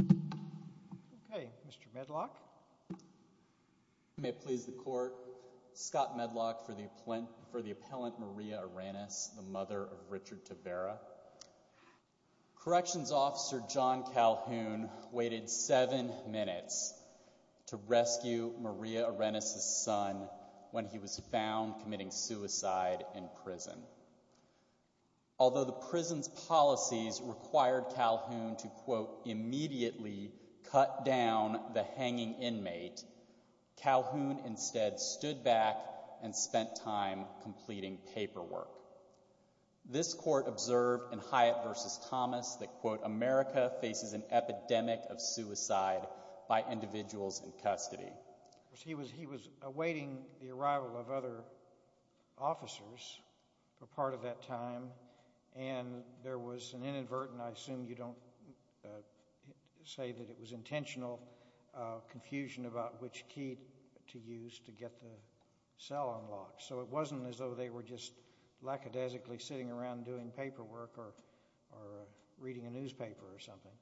Okay, Mr. Medlock. May it please the court, Scott Medlock for the appellant Maria Arenas, the mother of Richard Tavera. Corrections officer John Calhoun waited seven minutes to rescue Maria Arenas' son when he was found committing suicide in prison. Although the prison's policies required Calhoun to, quote, immediately cut down the hanging inmate, Calhoun instead stood back and spent time completing paperwork. This court observed in Hyatt v. Thomas that, quote, America faces an epidemic of suicide by individuals in custody. He was awaiting the arrival of other officers for part of that time, and there was an inadvertent, I assume you don't say that it was intentional, confusion about which key to use to get the cell unlocked. So it wasn't as though they were just lackadaisically sitting around doing paperwork or reading a newspaper or something.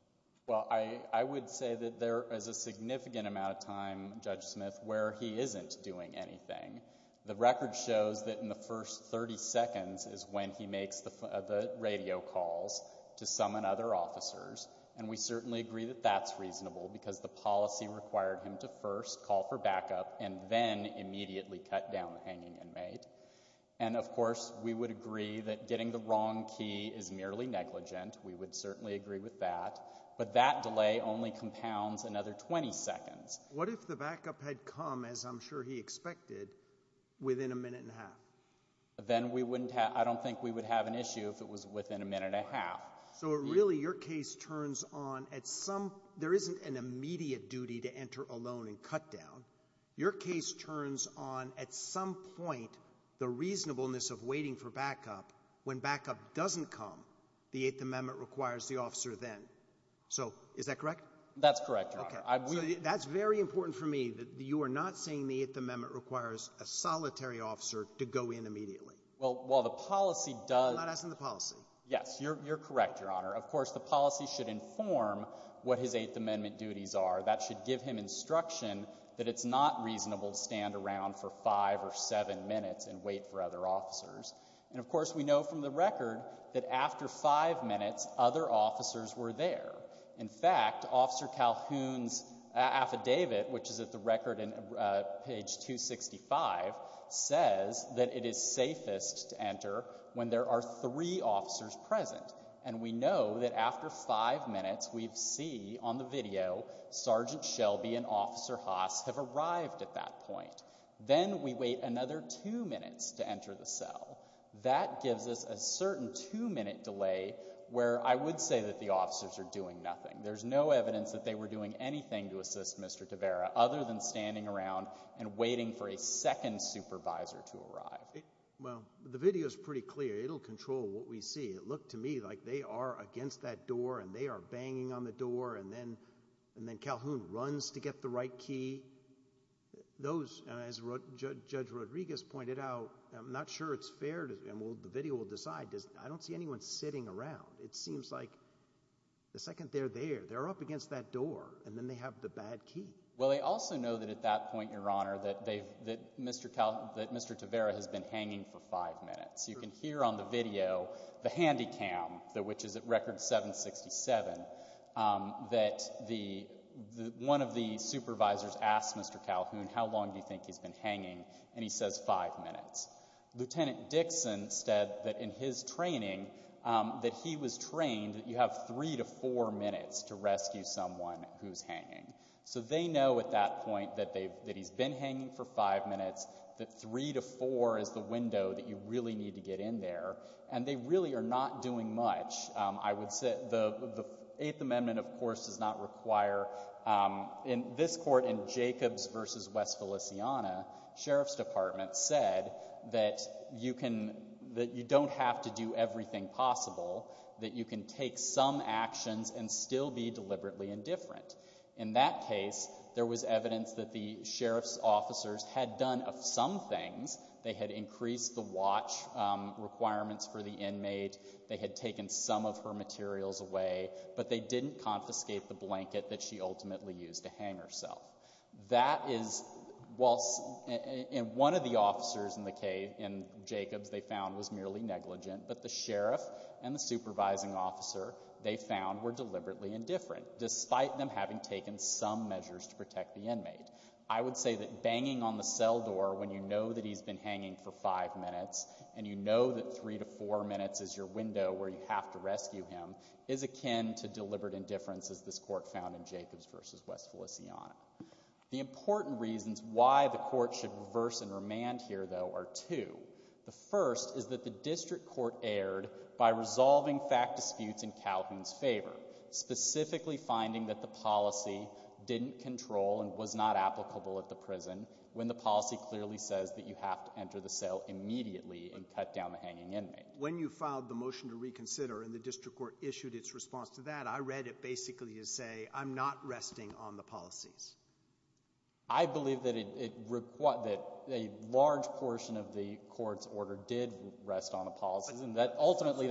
Well, I would say that there is a significant amount of time, Judge Smith, where he isn't doing anything. The record shows that in the first 30 seconds is when he makes the radio calls to summon other officers, and we certainly agree that that's reasonable because the policy required him to first call for backup and then immediately cut down the hanging inmate. And, of course, we would agree that getting the wrong key is merely negligent. We would certainly agree with that. But that delay only compounds another 20 seconds. What if the backup had come, as I'm sure he expected, within a minute and a half? Then we wouldn't have – I don't think we would have an issue if it was within a minute and a half. So really your case turns on at some – there isn't an immediate duty to enter alone and cut down. Your case turns on at some point the reasonableness of waiting for backup when backup doesn't come. The Eighth Amendment requires the officer then. So is that correct? That's correct, Your Honor. Okay. That's very important for me that you are not saying the Eighth Amendment requires a solitary officer to go in immediately. Well, the policy does – I'm not asking the policy. Yes. You're correct, Your Honor. Of course, the policy should inform what his Eighth Amendment duties are. That should give him instruction that it's not reasonable to stand around for five or seven minutes and wait for other officers. And, of course, we know from the record that after five minutes other officers were there. In fact, Officer Calhoun's affidavit, which is at the record in page 265, says that it is safest to enter when there are three officers present. And we know that after five minutes we see on the video Sergeant Shelby and Officer Haas have arrived at that point. Then we wait another two minutes to enter the cell. That gives us a certain two-minute delay where I would say that the officers are doing nothing. There's no evidence that they were doing anything to assist Mr. Tavera other than standing around and waiting for a second supervisor to arrive. Well, the video is pretty clear. It will control what we see. It looked to me like they are against that door and they are banging on the door, and then Calhoun runs to get the right key. As Judge Rodriguez pointed out, I'm not sure it's fair and the video will decide. I don't see anyone sitting around. It seems like the second they're there, they're up against that door, and then they have the bad key. Well, they also know that at that point, Your Honor, that Mr. Tavera has been hanging for five minutes. You can hear on the video the Handycam, which is at record 767, that one of the supervisors asked Mr. Calhoun, how long do you think he's been hanging, and he says five minutes. Lieutenant Dixon said that in his training that he was trained that you have three to four minutes to rescue someone who's hanging. So they know at that point that he's been hanging for five minutes, that three to four is the window that you really need to get in there, and they really are not doing much. I would say the Eighth Amendment, of course, does not require. In this court, in Jacobs v. West Feliciana, Sheriff's Department said that you don't have to do everything possible, that you can take some actions and still be deliberately indifferent. In that case, there was evidence that the sheriff's officers had done some things. They had increased the watch requirements for the inmate. They had taken some of her materials away, but they didn't confiscate the blanket that she ultimately used to hang herself. That is, while one of the officers in the cave, in Jacobs, they found was merely negligent, but the sheriff and the supervising officer, they found, were deliberately indifferent, despite them having taken some measures to protect the inmate. I would say that banging on the cell door when you know that he's been hanging for five minutes and you know that three to four minutes is your window where you have to rescue him is akin to deliberate indifference, as this court found in Jacobs v. West Feliciana. The important reasons why the court should reverse and remand here, though, are two. The first is that the district court erred by resolving fact disputes in Calhoun's favor, specifically finding that the policy didn't control and was not applicable at the prison when the policy clearly says that you have to enter the cell immediately and cut down the hanging inmate. When you filed the motion to reconsider and the district court issued its response to that, I read it basically as say, I'm not resting on the policies. I believe that a large portion of the court's order did rest on the policies. Ultimately,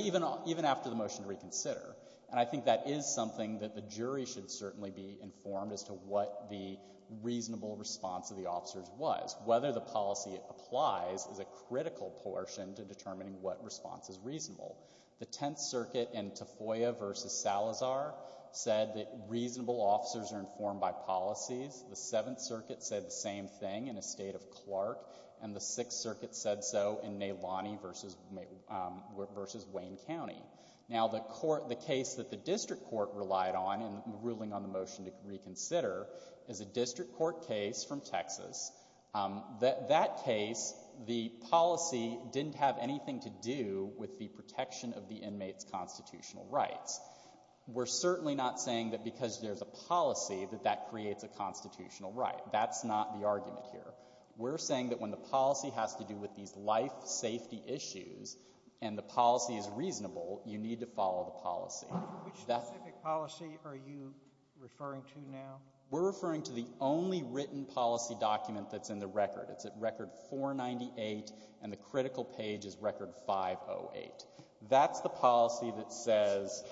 even after the motion to reconsider, and I think that is something that the jury should certainly be informed as to what the reasonable response of the officers was. Whether the policy applies is a critical portion to determining what response is reasonable. The Tenth Circuit in Tafoya v. Salazar said that reasonable officers are informed by policies. The Seventh Circuit said the same thing in the state of Clark. And the Sixth Circuit said so in Nalani v. Wayne County. Now, the case that the district court relied on in ruling on the motion to reconsider is a district court case from Texas. That case, the policy didn't have anything to do with the protection of the inmate's constitutional rights. We're certainly not saying that because there's a policy that that creates a constitutional right. That's not the argument here. We're saying that when the policy has to do with these life safety issues and the policy is reasonable, you need to follow the policy. Which specific policy are you referring to now? We're referring to the only written policy document that's in the record. It's at Record 498, and the critical page is Record 508. That's the policy that says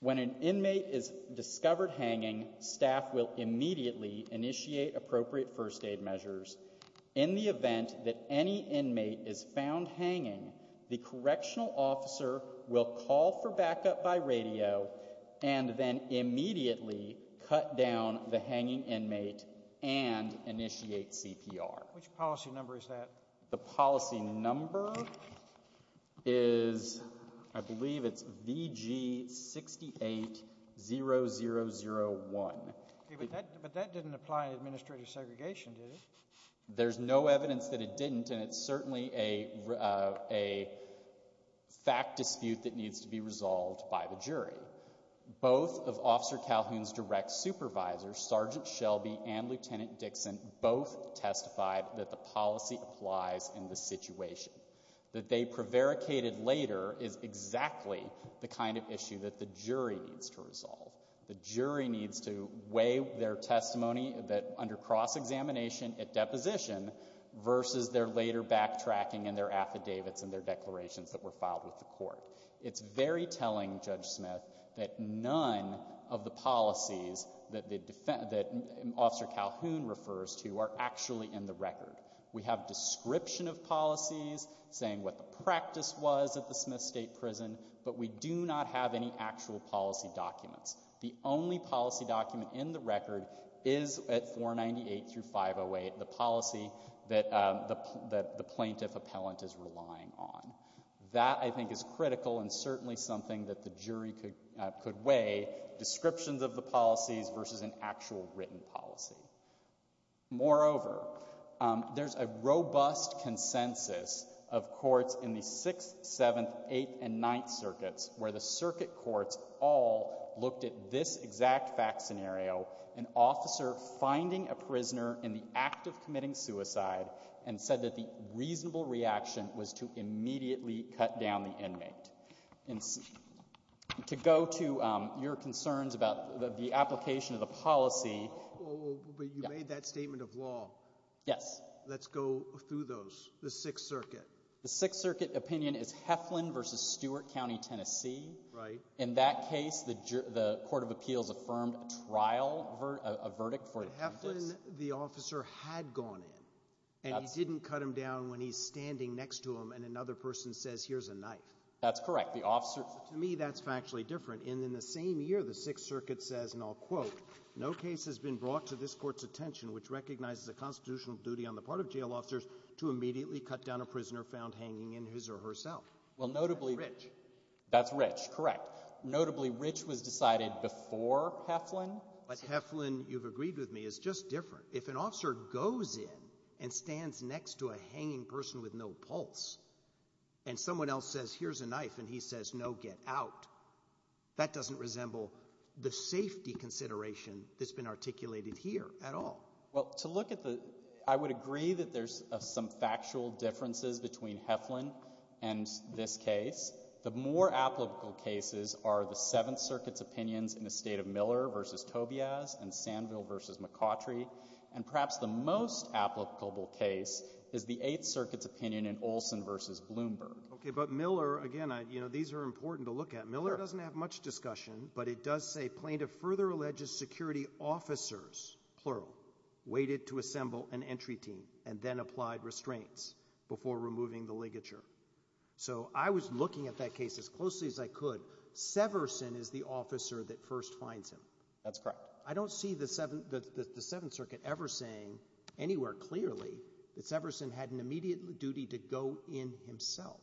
when an inmate is discovered hanging, staff will immediately initiate appropriate first aid measures. In the event that any inmate is found hanging, the correctional officer will call for backup by radio and then immediately cut down the hanging inmate and initiate CPR. Which policy number is that? The policy number is, I believe it's VG680001. But that didn't apply to administrative segregation, did it? There's no evidence that it didn't, and it's certainly a fact dispute that needs to be resolved by the jury. Both of Officer Calhoun's direct supervisors, Sergeant Shelby and Lieutenant Dixon, both testified that the policy applies in the situation. That they prevaricated later is exactly the kind of issue that the jury needs to resolve. The jury needs to weigh their testimony under cross-examination at deposition versus their later backtracking in their affidavits and their declarations that were filed with the court. It's very telling, Judge Smith, that none of the policies that Officer Calhoun refers to are actually in the record. We have description of policies saying what the practice was at the Smith State Prison, but we do not have any actual policy documents. The only policy document in the record is at 498 through 508, the policy that the plaintiff appellant is relying on. That, I think, is critical and certainly something that the jury could weigh, descriptions of the policies versus an actual written policy. Moreover, there's a robust consensus of courts in the 6th, 7th, 8th, and 9th Circuits where the circuit courts all looked at this exact fact scenario, an officer finding a prisoner in the act of committing suicide and said that the reasonable reaction was to immediately cut down the inmate. And to go to your concerns about the application of the policy. But you made that statement of law. Yes. Let's go through those, the 6th Circuit. The 6th Circuit opinion is Heflin versus Stewart County, Tennessee. Right. In that case, the Court of Appeals affirmed a trial, a verdict. But Heflin, the officer, had gone in. And he didn't cut him down when he's standing next to him and another person says, here's a knife. That's correct. To me, that's factually different. And in the same year, the 6th Circuit says, and I'll quote, no case has been brought to this court's attention which recognizes a constitutional duty on the part of jail officers to immediately cut down a prisoner found hanging in his or herself. That's Rich. That's Rich, correct. Notably, Rich was decided before Heflin. But Heflin, you've agreed with me, is just different. If an officer goes in and stands next to a hanging person with no pulse and someone else says, here's a knife, and he says, no, get out, that doesn't resemble the safety consideration that's been articulated here at all. Well, to look at the – I would agree that there's some factual differences between Heflin and this case. The more applicable cases are the 7th Circuit's opinions in the state of Miller v. Tobias and Sandville v. McCautry. And perhaps the most applicable case is the 8th Circuit's opinion in Olson v. Bloomberg. Okay, but Miller, again, these are important to look at. Miller doesn't have much discussion, but it does say, plaintiff further alleges security officers, plural, waited to assemble an entry team and then applied restraints before removing the ligature. So I was looking at that case as closely as I could. Severson is the officer that first finds him. That's correct. I don't see the 7th Circuit ever saying anywhere clearly that Severson had an immediate duty to go in himself.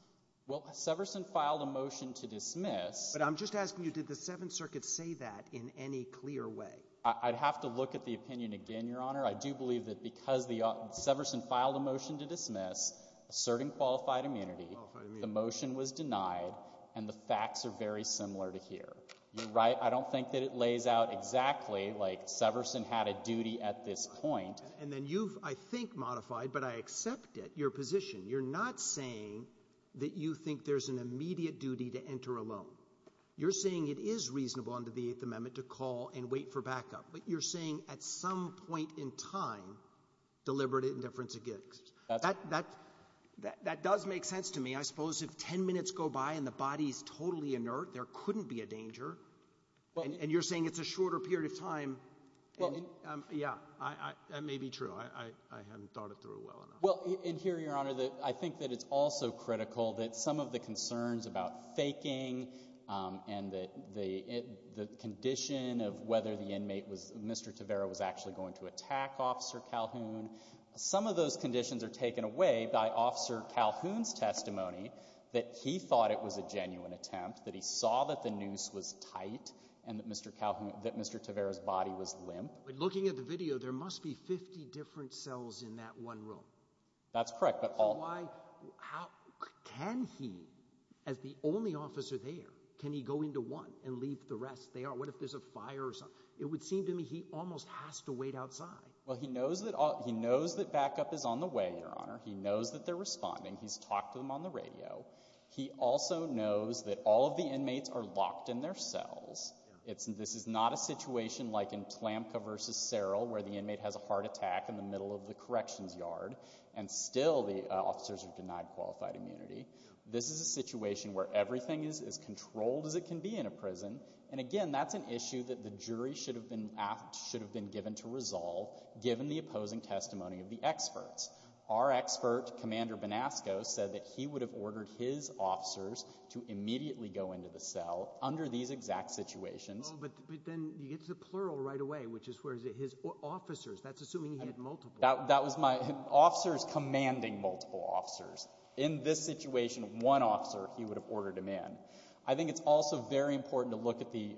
Well, Severson filed a motion to dismiss. But I'm just asking you, did the 7th Circuit say that in any clear way? I'd have to look at the opinion again, Your Honor. I do believe that because Severson filed a motion to dismiss, asserting qualified immunity, the motion was denied, and the facts are very similar to here. You're right. I don't think that it lays out exactly like Severson had a duty at this point. And then you've, I think, modified, but I accept it, your position. You're not saying that you think there's an immediate duty to enter alone. You're saying it is reasonable under the Eighth Amendment to call and wait for backup. But you're saying at some point in time deliberate indifference exists. That does make sense to me. I suppose if 10 minutes go by and the body is totally inert, there couldn't be a danger. And you're saying it's a shorter period of time. Yeah, that may be true. I haven't thought it through well enough. Well, and here, your Honor, I think that it's also critical that some of the concerns about faking and the condition of whether the inmate, Mr. Tavera, was actually going to attack Officer Calhoun, some of those conditions are taken away by Officer Calhoun's testimony that he thought it was a genuine attempt, that he saw that the noose was tight and that Mr. Tavera's body was limp. But looking at the video, there must be 50 different cells in that one room. That's correct. Can he, as the only officer there, can he go into one and leave the rest there? What if there's a fire or something? It would seem to me he almost has to wait outside. Well, he knows that backup is on the way, your Honor. He knows that they're responding. He's talked to them on the radio. He also knows that all of the inmates are locked in their cells. This is not a situation like in Tlamka v. Sarrell where the inmate has a heart attack in the middle of the corrections yard and still the officers are denied qualified immunity. This is a situation where everything is as controlled as it can be in a prison. And, again, that's an issue that the jury should have been given to resolve given the opposing testimony of the experts. Our expert, Commander Benasco, said that he would have ordered his officers to immediately go into the cell under these exact situations. But then you get to the plural right away, which is where his officers, that's assuming he had multiple. That was my officers commanding multiple officers. In this situation, one officer, he would have ordered him in. I think it's also very important to look at the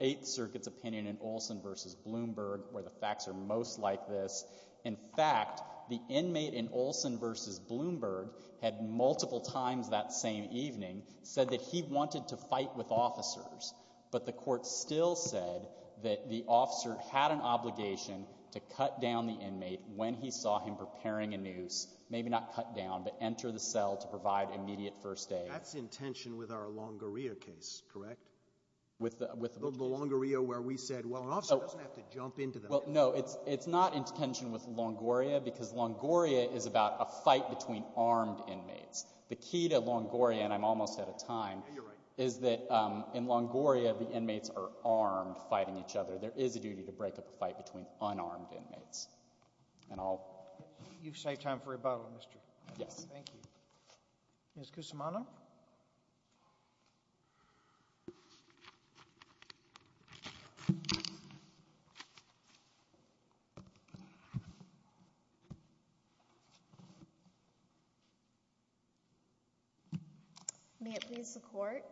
Eighth Circuit's opinion in Olson v. Bloomberg where the facts are most like this. In fact, the inmate in Olson v. Bloomberg had multiple times that same evening said that he wanted to fight with officers, but the court still said that the officer had an obligation to cut down the inmate when he saw him preparing a noose, maybe not cut down, but enter the cell to provide immediate first aid. That's in tension with our Longoria case, correct? With the which case? The Longoria where we said, well, an officer doesn't have to jump into the cell. No, it's not in tension with Longoria because Longoria is about a fight between armed inmates. The key to Longoria, and I'm almost out of time, is that in Longoria the inmates are armed fighting each other. There is a duty to break up a fight between unarmed inmates. And I'll— You've saved time for rebuttal, Mr. — Yes. Thank you. Ms. Cusimano? May it please the court.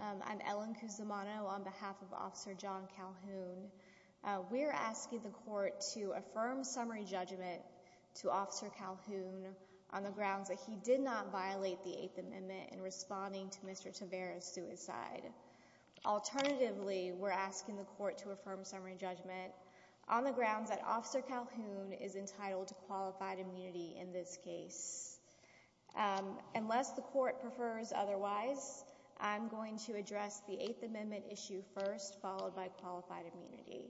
I'm Ellen Cusimano on behalf of Officer John Calhoun. We're asking the court to affirm summary judgment to Officer Calhoun on the grounds that he did not violate the Eighth Amendment in responding to Mr. Tavera's suicide. Alternatively, we're asking the court to affirm summary judgment on the grounds that Officer Calhoun is entitled to qualified immunity in this case. Unless the court prefers otherwise, I'm going to address the Eighth Amendment issue first, followed by qualified immunity.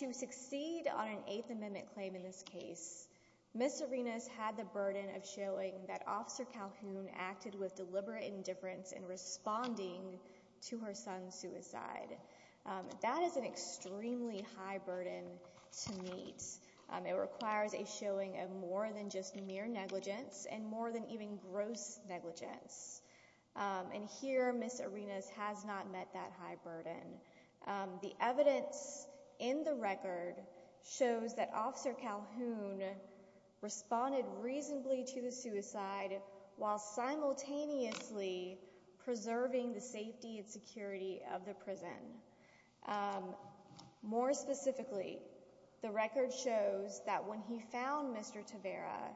To succeed on an Eighth Amendment claim in this case, Ms. Arenas had the burden of showing that Officer Calhoun acted with deliberate indifference in responding to her son's suicide. That is an extremely high burden to meet. It requires a showing of more than just mere negligence and more than even gross negligence. And here Ms. Arenas has not met that high burden. The evidence in the record shows that Officer Calhoun responded reasonably to the suicide while simultaneously preserving the safety and security of the prison. More specifically, the record shows that when he found Mr. Tavera,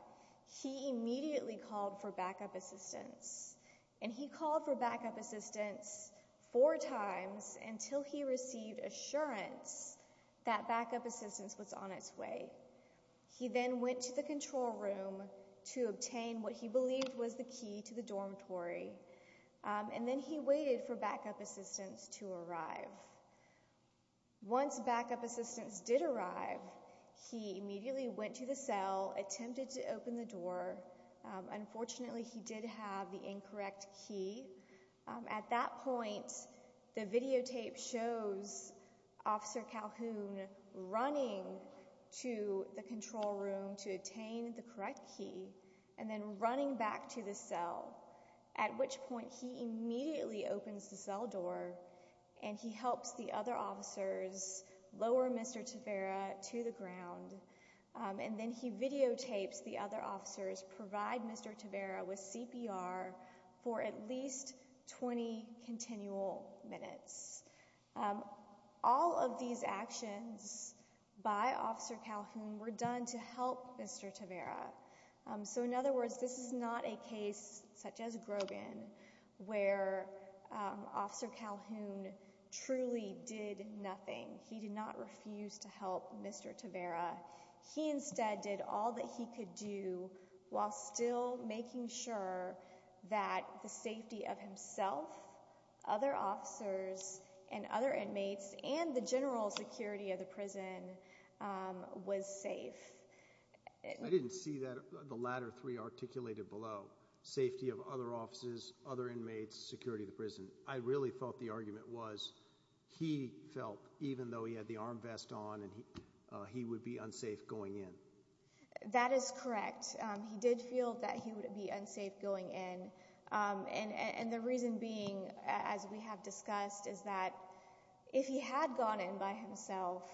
he immediately called for backup assistance. And he called for backup assistance four times until he received assurance that backup assistance was on its way. He then went to the control room to obtain what he believed was the key to the dormitory, and then he waited for backup assistance to arrive. Once backup assistance did arrive, he immediately went to the cell, attempted to open the door. Unfortunately, he did have the incorrect key. At that point, the videotape shows Officer Calhoun running to the control room to obtain the correct key and then running back to the cell, at which point he immediately opens the cell door and he helps the other officers lower Mr. Tavera to the ground. And then he videotapes the other officers provide Mr. Tavera with CPR for at least 20 continual minutes. All of these actions by Officer Calhoun were done to help Mr. Tavera. So in other words, this is not a case such as Grogan where Officer Calhoun truly did nothing. He did not refuse to help Mr. Tavera. He instead did all that he could do while still making sure that the safety of himself, other officers, and other inmates, and the general security of the prison was safe. I didn't see that, the latter three articulated below, safety of other offices, other inmates, security of the prison. I really thought the argument was he felt, even though he had the arm vest on, he would be unsafe going in. That is correct. He did feel that he would be unsafe going in. And the reason being, as we have discussed, is that if he had gone in by himself,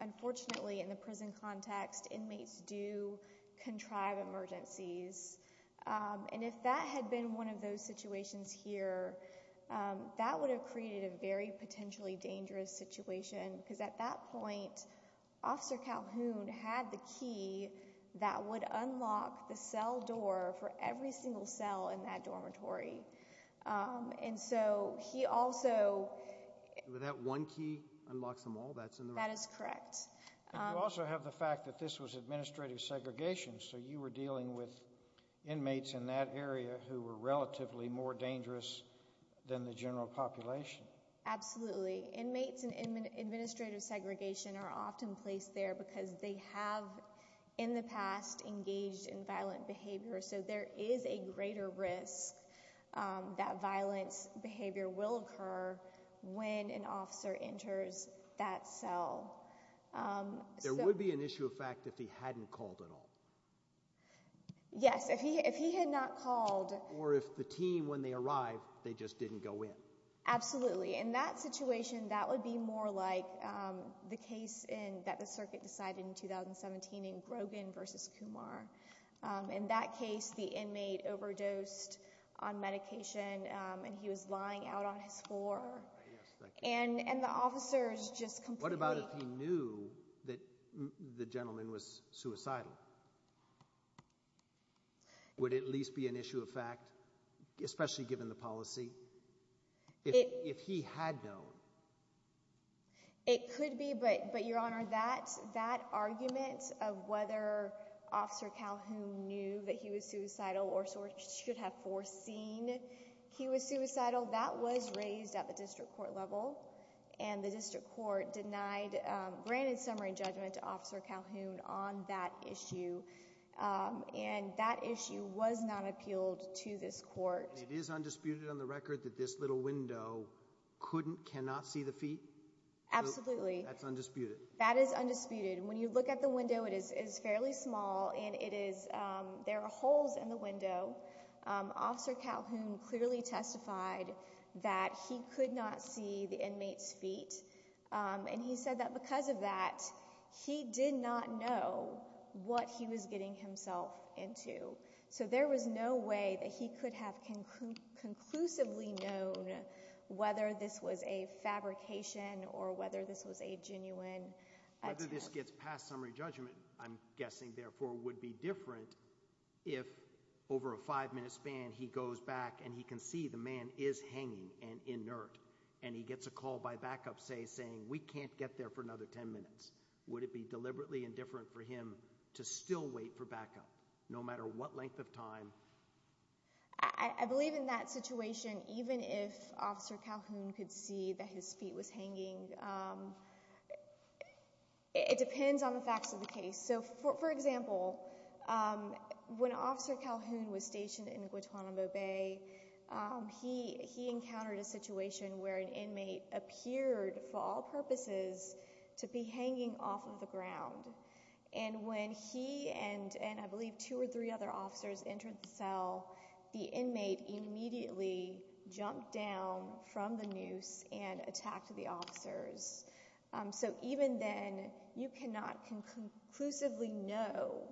unfortunately in the prison context inmates do contrive emergencies. And if that had been one of those situations here, that would have created a very potentially dangerous situation because at that point Officer Calhoun had the key that would unlock the cell door for every single cell in that dormitory. And so he also... That one key unlocks them all? That is correct. You also have the fact that this was administrative segregation, so you were dealing with inmates in that area who were relatively more dangerous than the general population. Absolutely. Inmates in administrative segregation are often placed there because they have in the past engaged in violent behavior. So there is a greater risk that violent behavior will occur when an officer enters that cell. There would be an issue of fact if he hadn't called at all. Yes. If he had not called... Or if the team, when they arrived, they just didn't go in. Absolutely. In that situation, that would be more like the case that the circuit decided in 2017 in Grogan v. Kumar. In that case, the inmate overdosed on medication and he was lying out on his floor. And the officers just completely... What about if he knew that the gentleman was suicidal? Would it at least be an issue of fact, especially given the policy, if he had known? It could be, but, Your Honor, that argument of whether Officer Calhoun knew that he was suicidal or should have foreseen he was suicidal, that was raised at the district court level. And the district court denied, granted summary judgment to Officer Calhoun on that issue. And that issue was not appealed to this court. It is undisputed on the record that this little window couldn't, cannot see the feet? Absolutely. That's undisputed. That is undisputed. When you look at the window, it is fairly small and it is... There are holes in the window. Officer Calhoun clearly testified that he could not see the inmate's feet. And he said that because of that, he did not know what he was getting himself into. So there was no way that he could have conclusively known whether this was a fabrication or whether this was a genuine attempt. Whether this gets past summary judgment, I'm guessing, therefore, would be different if over a five-minute span he goes back and he can see the man is hanging and inert and he gets a call by backup, say, saying, we can't get there for another ten minutes. Would it be deliberately indifferent for him to still wait for backup, no matter what length of time? I believe in that situation, even if Officer Calhoun could see that his feet was hanging, it depends on the facts of the case. So, for example, when Officer Calhoun was stationed in Guantanamo Bay, he encountered a situation where an inmate appeared for all purposes to be hanging off of the ground. And when he and, I believe, two or three other officers entered the cell, the inmate immediately jumped down from the noose and attacked the officers. So even then, you cannot conclusively know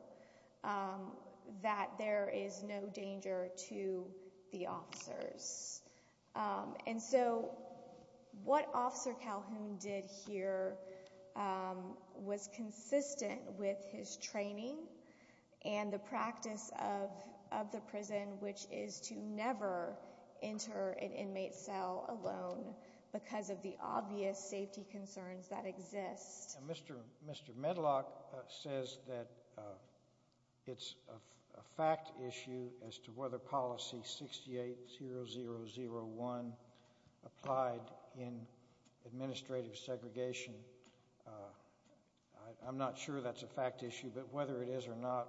that there is no danger to the officers. And so what Officer Calhoun did here was consistent with his training and the practice of the prison, which is to never enter an inmate cell alone because of the obvious safety concerns that exist. Mr. Medlock says that it's a fact issue as to whether policy 68001 applied in administrative segregation. I'm not sure that's a fact issue, but whether it is or not,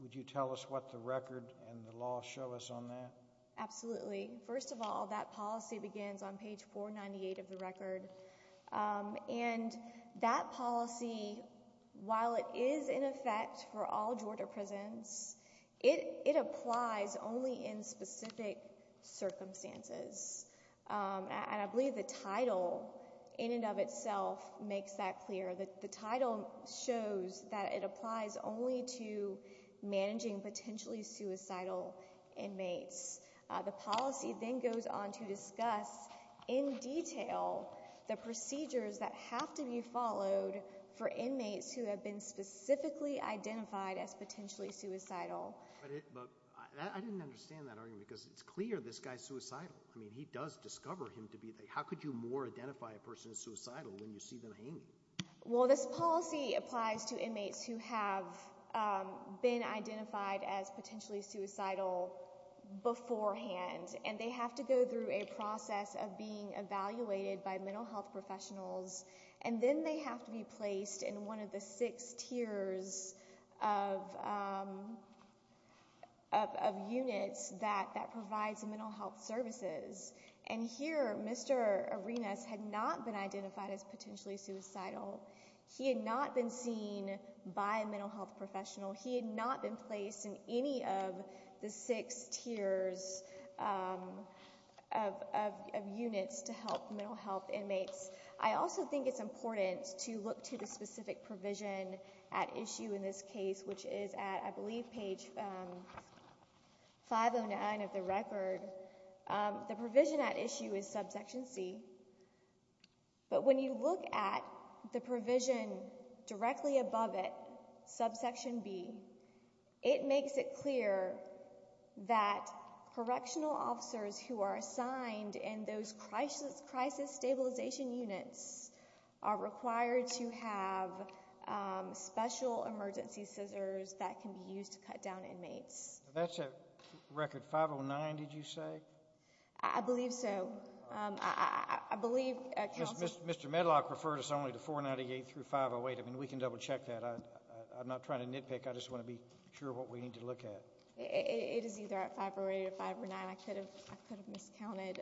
would you tell us what the record and the law show us on that? Absolutely. First of all, that policy begins on page 498 of the record. And that policy, while it is in effect for all Georgia prisons, it applies only in specific circumstances. And I believe the title in and of itself makes that clear. The title shows that it applies only to managing potentially suicidal inmates. The policy then goes on to discuss in detail the procedures that have to be followed for inmates who have been specifically identified as potentially suicidal. But I didn't understand that argument because it's clear this guy is suicidal. I mean, he does discover him to be. How could you more identify a person as suicidal when you see them hanging? Well, this policy applies to inmates who have been identified as potentially suicidal beforehand, and they have to go through a process of being evaluated by mental health professionals, and then they have to be placed in one of the six tiers of units that provides mental health services. And here Mr. Arenas had not been identified as potentially suicidal. He had not been seen by a mental health professional. He had not been placed in any of the six tiers of units to help mental health inmates. I also think it's important to look to the specific provision at issue in this case, which is at, I believe, page 509 of the record. The provision at issue is subsection C. But when you look at the provision directly above it, subsection B, it makes it clear that correctional officers who are assigned in those crisis stabilization units are required to have special emergency scissors that can be used to cut down inmates. That's at record 509, did you say? I believe so. I believe counsel— Mr. Medlock referred us only to 498 through 508. I mean, we can double check that. I'm not trying to nitpick. I just want to be sure what we need to look at. It is either at 508 or 509. I could have miscounted.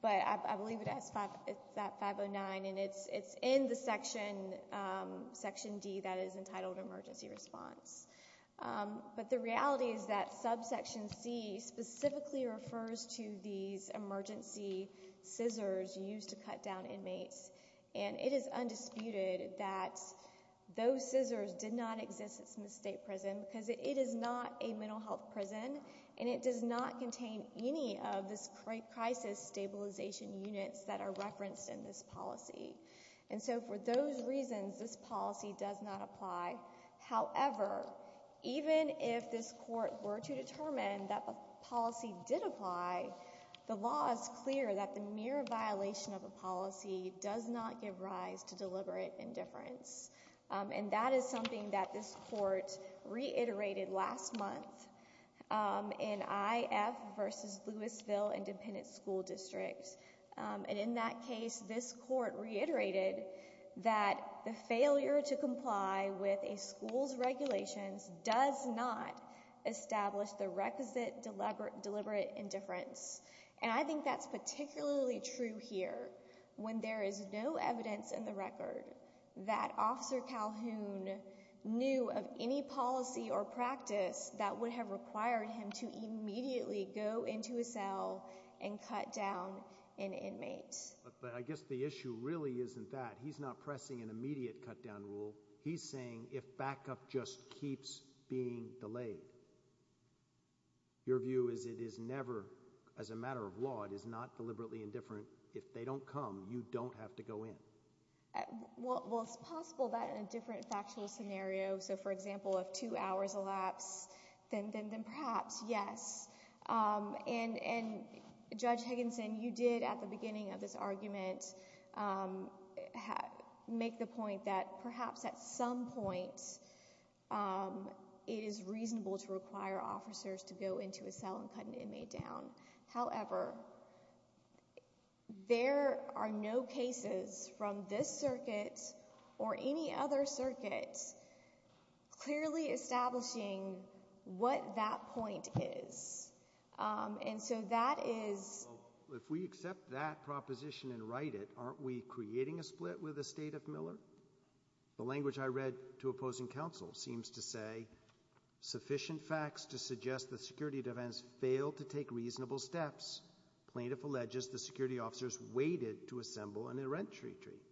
But I believe it's at 509, and it's in the section D that is entitled emergency response. But the reality is that subsection C specifically refers to these emergency scissors used to cut down inmates, and it is undisputed that those scissors did not exist in the state prison because it is not a mental health prison, and it does not contain any of this crisis stabilization units that are referenced in this policy. And so for those reasons, this policy does not apply. However, even if this court were to determine that the policy did apply, the law is clear that the mere violation of a policy does not give rise to deliberate indifference. And that is something that this court reiterated last month in IF v. Lewisville Independent School District. And in that case, this court reiterated that the failure to comply with a school's regulations does not establish the requisite deliberate indifference. And I think that's particularly true here when there is no evidence in the record that Officer Calhoun knew of any policy or practice that would have required him to immediately go into a cell and cut down an inmate. But I guess the issue really isn't that. He's not pressing an immediate cut-down rule. He's saying if backup just keeps being delayed. Your view is it is never, as a matter of law, it is not deliberately indifferent. If they don't come, you don't have to go in. Well, it's possible that in a different factual scenario, so for example, if two hours elapse, then perhaps, yes. And Judge Higginson, you did at the beginning of this argument make the point that perhaps at some point it is reasonable to require officers to go into a cell and cut an inmate down. However, there are no cases from this circuit or any other circuit clearly establishing what that point is. And so that is— Well, if we accept that proposition and write it, aren't we creating a split with the State of Miller? The language I read to opposing counsel seems to say, sufficient facts to suggest the security defense failed to take reasonable steps. Plaintiff alleges the security officers waited to assemble an errant retreat.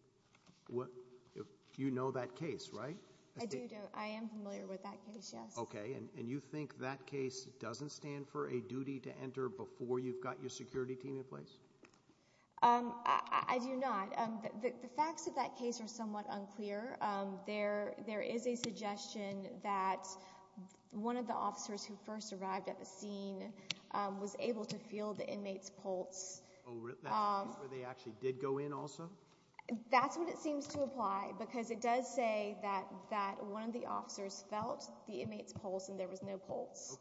You know that case, right? I do. I am familiar with that case, yes. Okay, and you think that case doesn't stand for a duty to enter before you've got your security team in place? I do not. The facts of that case are somewhat unclear. There is a suggestion that one of the officers who first arrived at the scene was able to feel the inmate's pulse. That's where they actually did go in also? That's what it seems to apply because it does say that one of the officers felt the inmate's pulse and there was no pulse.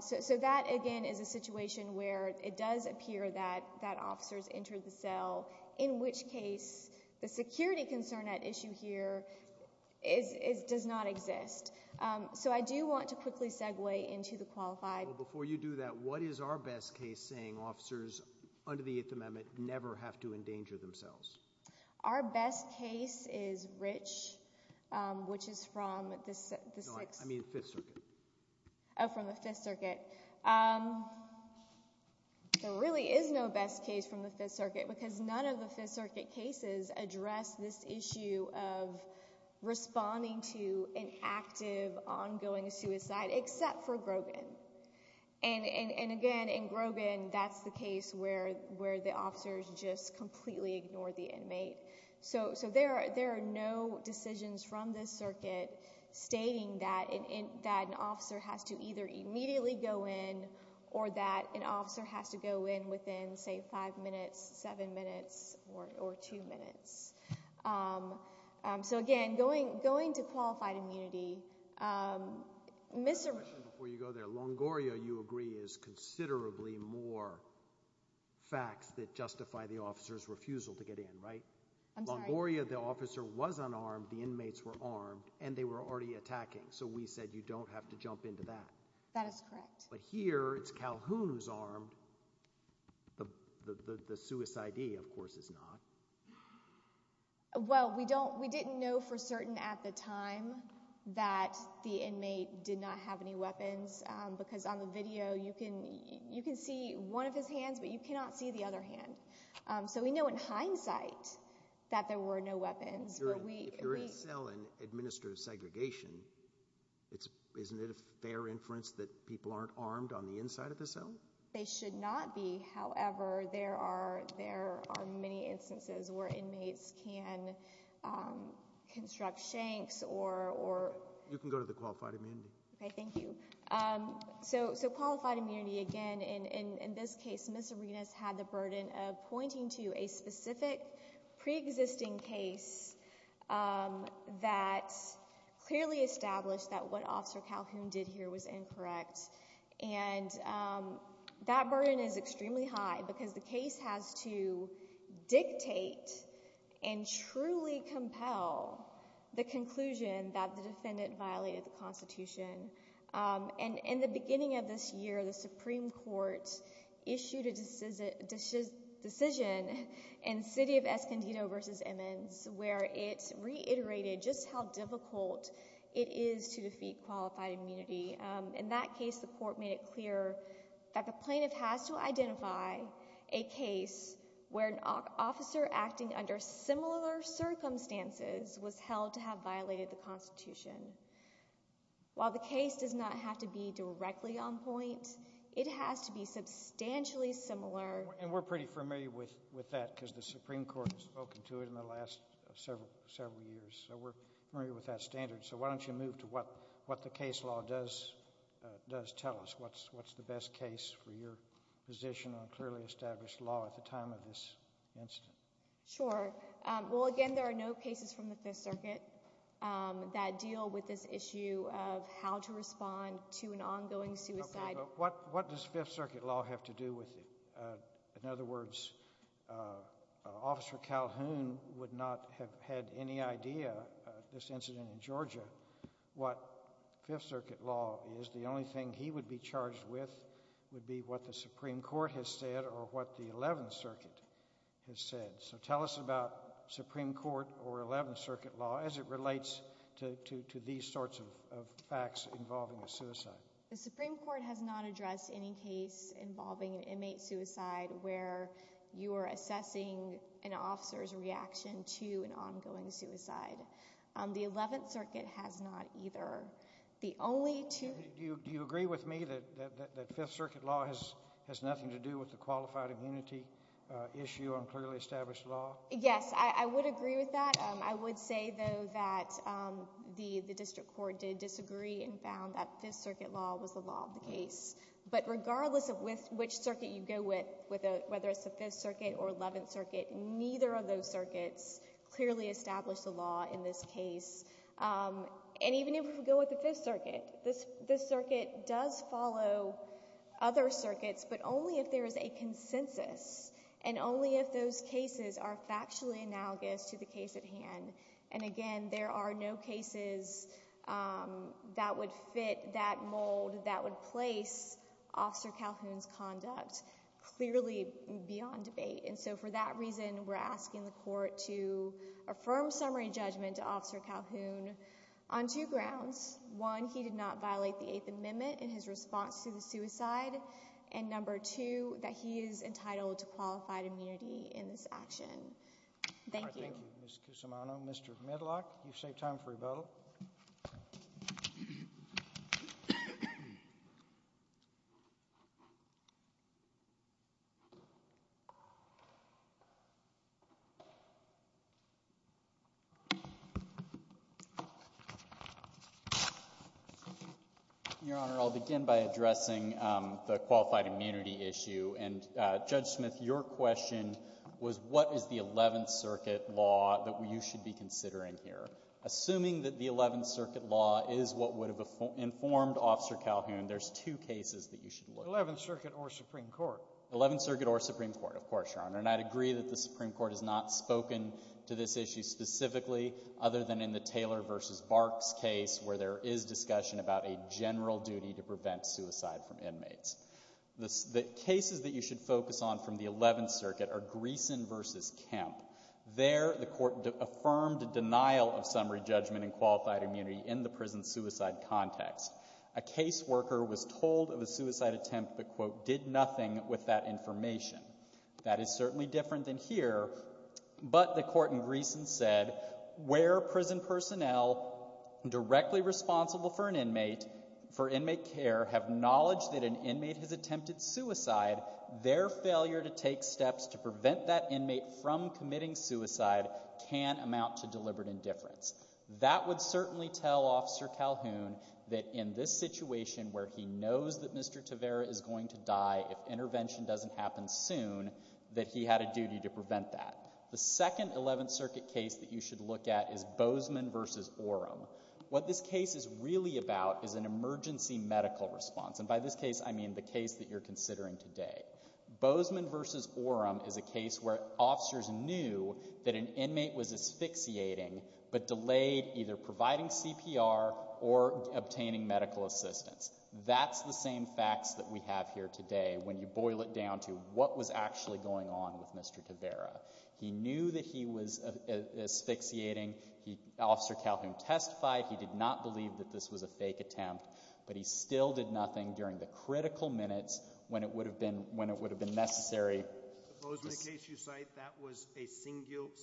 So that, again, is a situation where it does appear that officers entered the cell, in which case the security concern at issue here does not exist. So I do want to quickly segue into the qualified— Our best case is Rich, which is from the— No, I mean the Fifth Circuit. Oh, from the Fifth Circuit. There really is no best case from the Fifth Circuit because none of the Fifth Circuit cases address this issue of responding to an active, ongoing suicide except for Grogan. And, again, in Grogan, that's the case where the officers just completely ignored the inmate. So there are no decisions from this circuit stating that an officer has to either immediately go in or that an officer has to go in within, say, five minutes, seven minutes, or two minutes. So, again, going to qualified immunity— I have a question before you go there. Longoria, you agree, is considerably more facts that justify the officer's refusal to get in, right? I'm sorry. Longoria, the officer was unarmed, the inmates were armed, and they were already attacking. So we said you don't have to jump into that. That is correct. But here, it's Calhoun who's armed. The suicidee, of course, is not. Well, we didn't know for certain at the time that the inmate did not have any weapons because on the video you can see one of his hands, but you cannot see the other hand. So we know in hindsight that there were no weapons. If you're in a cell and administer segregation, isn't it a fair inference that people aren't armed on the inside of the cell? They should not be. However, there are many instances where inmates can construct shanks or— You can go to the qualified immunity. Okay, thank you. So qualified immunity, again, in this case, Ms. Arenas had the burden of pointing to a specific preexisting case that clearly established that what Officer Calhoun did here was incorrect. And that burden is extremely high because the case has to dictate and truly compel the conclusion that the defendant violated the Constitution. And in the beginning of this year, the Supreme Court issued a decision in City of Escondido v. Emmons where it reiterated just how difficult it is to defeat qualified immunity. In that case, the court made it clear that the plaintiff has to identify a case where an officer acting under similar circumstances was held to have violated the Constitution. While the case does not have to be directly on point, it has to be substantially similar— And we're pretty familiar with that because the Supreme Court has spoken to it in the last several years. So we're familiar with that standard. So why don't you move to what the case law does tell us? What's the best case for your position on clearly established law at the time of this incident? Sure. Well, again, there are no cases from the Fifth Circuit that deal with this issue of how to respond to an ongoing suicide— Okay, but what does Fifth Circuit law have to do with it? In other words, Officer Calhoun would not have had any idea, this incident in Georgia, what Fifth Circuit law is. The only thing he would be charged with would be what the Supreme Court has said or what the Eleventh Circuit has said. So tell us about Supreme Court or Eleventh Circuit law as it relates to these sorts of facts involving a suicide. The Supreme Court has not addressed any case involving an inmate suicide where you are assessing an officer's reaction to an ongoing suicide. The Eleventh Circuit has not either. Do you agree with me that Fifth Circuit law has nothing to do with the qualified immunity issue on clearly established law? Yes, I would agree with that. I would say, though, that the district court did disagree and found that Fifth Circuit law was the law of the case. But regardless of which circuit you go with, whether it's the Fifth Circuit or Eleventh Circuit, neither of those circuits clearly established the law in this case. And even if you go with the Fifth Circuit, this circuit does follow other circuits, but only if there is a consensus and only if those cases are factually analogous to the case at hand. And again, there are no cases that would fit that mold, that would place Officer Calhoun's conduct clearly beyond debate. And so for that reason, we're asking the court to affirm summary judgment to Officer Calhoun on two grounds. One, he did not violate the Eighth Amendment in his response to the suicide. And number two, that he is entitled to qualified immunity in this action. Thank you. Thank you, Ms. Cusimano. Mr. Medlock, you've saved time for your vote. Your Honor, I'll begin by addressing the qualified immunity issue. And Judge Smith, your question was what is the Eleventh Circuit law that you should be considering here. Assuming that the Eleventh Circuit law is what would have informed Officer Calhoun, there's two cases that you should look at. Eleventh Circuit or Supreme Court. Eleventh Circuit or Supreme Court, of course, Your Honor. And I'd agree that the Supreme Court has not spoken to this issue specifically other than in the Taylor v. Barks case where there is discussion about a general duty to prevent suicide from inmates. The cases that you should focus on from the Eleventh Circuit are Greeson v. Kemp. There, the court affirmed denial of summary judgment and qualified immunity in the prison suicide context. A caseworker was told of a suicide attempt but, quote, did nothing with that information. That is certainly different than here. But the court in Greeson said where prison personnel directly responsible for an inmate, for inmate care, have knowledge that an inmate has attempted suicide, their failure to take steps to prevent that inmate from committing suicide can amount to deliberate indifference. That would certainly tell Officer Calhoun that in this situation where he knows that Mr. Tavera is going to die, if intervention doesn't happen soon, that he had a duty to prevent that. The second Eleventh Circuit case that you should look at is Bozeman v. Orem. What this case is really about is an emergency medical response. And by this case, I mean the case that you're considering today. Bozeman v. Orem is a case where officers knew that an inmate was asphyxiating but delayed either providing CPR or obtaining medical assistance. That's the same facts that we have here today when you boil it down to what was actually going on with Mr. Tavera. He knew that he was asphyxiating. Officer Calhoun testified he did not believe that this was a fake attempt, but he still did nothing during the critical minutes when it would have been necessary. Suppose in the case you cite that was a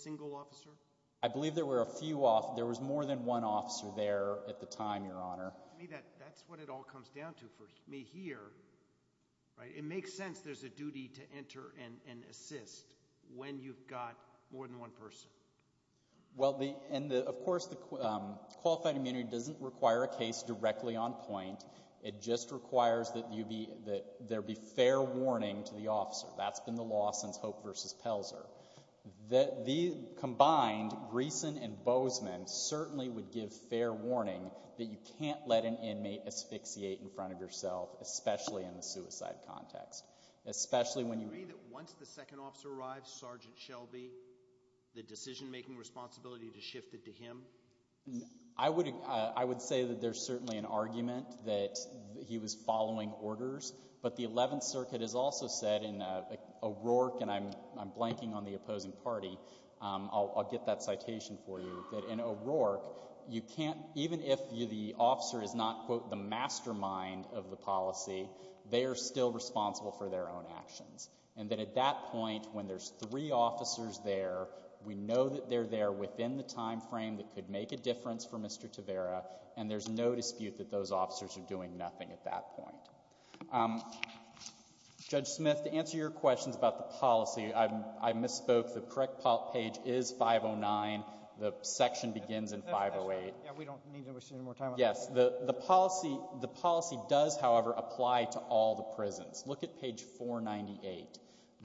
single officer? I believe there were a few officers. There was more than one officer there at the time, Your Honor. That's what it all comes down to for me here. It makes sense there's a duty to enter and assist when you've got more than one person. Of course, qualified immunity doesn't require a case directly on point. It just requires that there be fair warning to the officer. That's been the law since Hope v. Pelzer. Combined, Greeson and Bozeman certainly would give fair warning that you can't let an inmate asphyxiate in front of yourself, especially in the suicide context. Do you agree that once the second officer arrives, Sergeant Shelby, the decision-making responsibility is shifted to him? I would say that there's certainly an argument that he was following orders, but the Eleventh Circuit has also said in O'Rourke, and I'm blanking on the opposing party, I'll get that citation for you, that in O'Rourke, even if the officer is not, quote, the mastermind of the policy, they are still responsible for their own actions, and that at that point when there's three officers there, we know that they're there within the time frame that could make a difference for Mr. Tavera, and there's no dispute that those officers are doing nothing at that point. Judge Smith, to answer your questions about the policy, I misspoke. The correct page is 509. The section begins in 508. Yeah, we don't need to waste any more time on that. Yes, the policy does, however, apply to all the prisons. Look at page 498.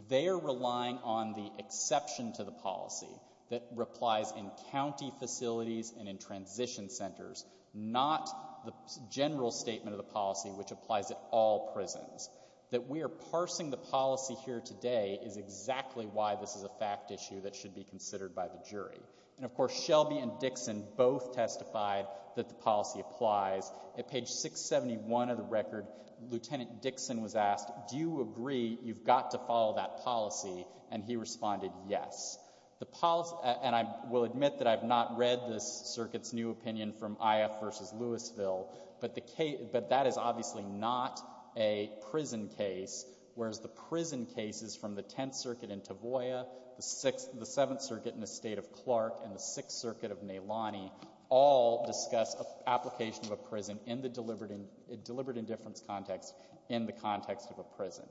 They are relying on the exception to the policy that applies in county facilities and in transition centers, not the general statement of the policy which applies at all prisons. That we are parsing the policy here today is exactly why this is a fact issue that should be considered by the jury. And, of course, Shelby and Dixon both testified that the policy applies. At page 671 of the record, Lieutenant Dixon was asked, do you agree you've got to follow that policy, and he responded yes. The policy, and I will admit that I've not read this circuit's new opinion from Ioffe v. Louisville, but that is obviously not a prison case, whereas the prison cases from the Tenth Circuit in Tavoya, the Seventh Circuit in the State of Clark, and the Sixth Circuit of Nelani all discuss application of a prison in the deliberate indifference context in the context of a prison.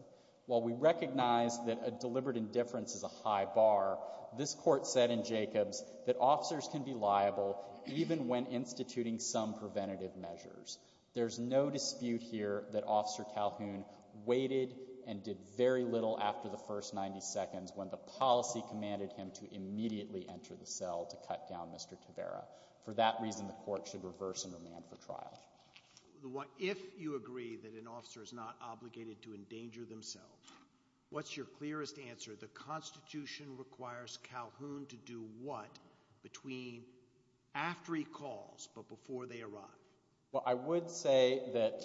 While we recognize that a deliberate indifference is a high bar, this Court said in Jacobs that officers can be liable even when instituting some preventative measures. There's no dispute here that Officer Calhoun waited and did very little after the first 90 seconds when the policy commanded him to immediately enter the cell to cut down Mr. Tavera. For that reason, the Court should reverse and remand for trial. If you agree that an officer is not obligated to endanger themselves, what's your clearest answer? The Constitution requires Calhoun to do what between after he calls but before they arrive? Well, I would say that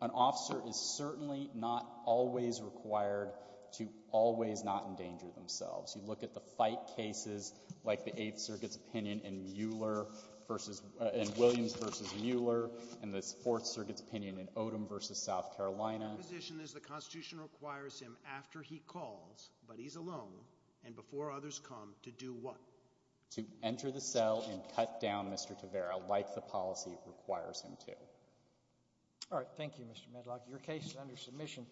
an officer is certainly not always required to always not endanger themselves. You look at the fight cases like the Eighth Circuit's opinion in Williams v. Mueller and the Fourth Circuit's opinion in Odom v. South Carolina. My position is the Constitution requires him after he calls, but he's alone, and before others come, to do what? To enter the cell and cut down Mr. Tavera like the policy requires him to. All right. Thank you, Mr. Medlock. Your case is under submission.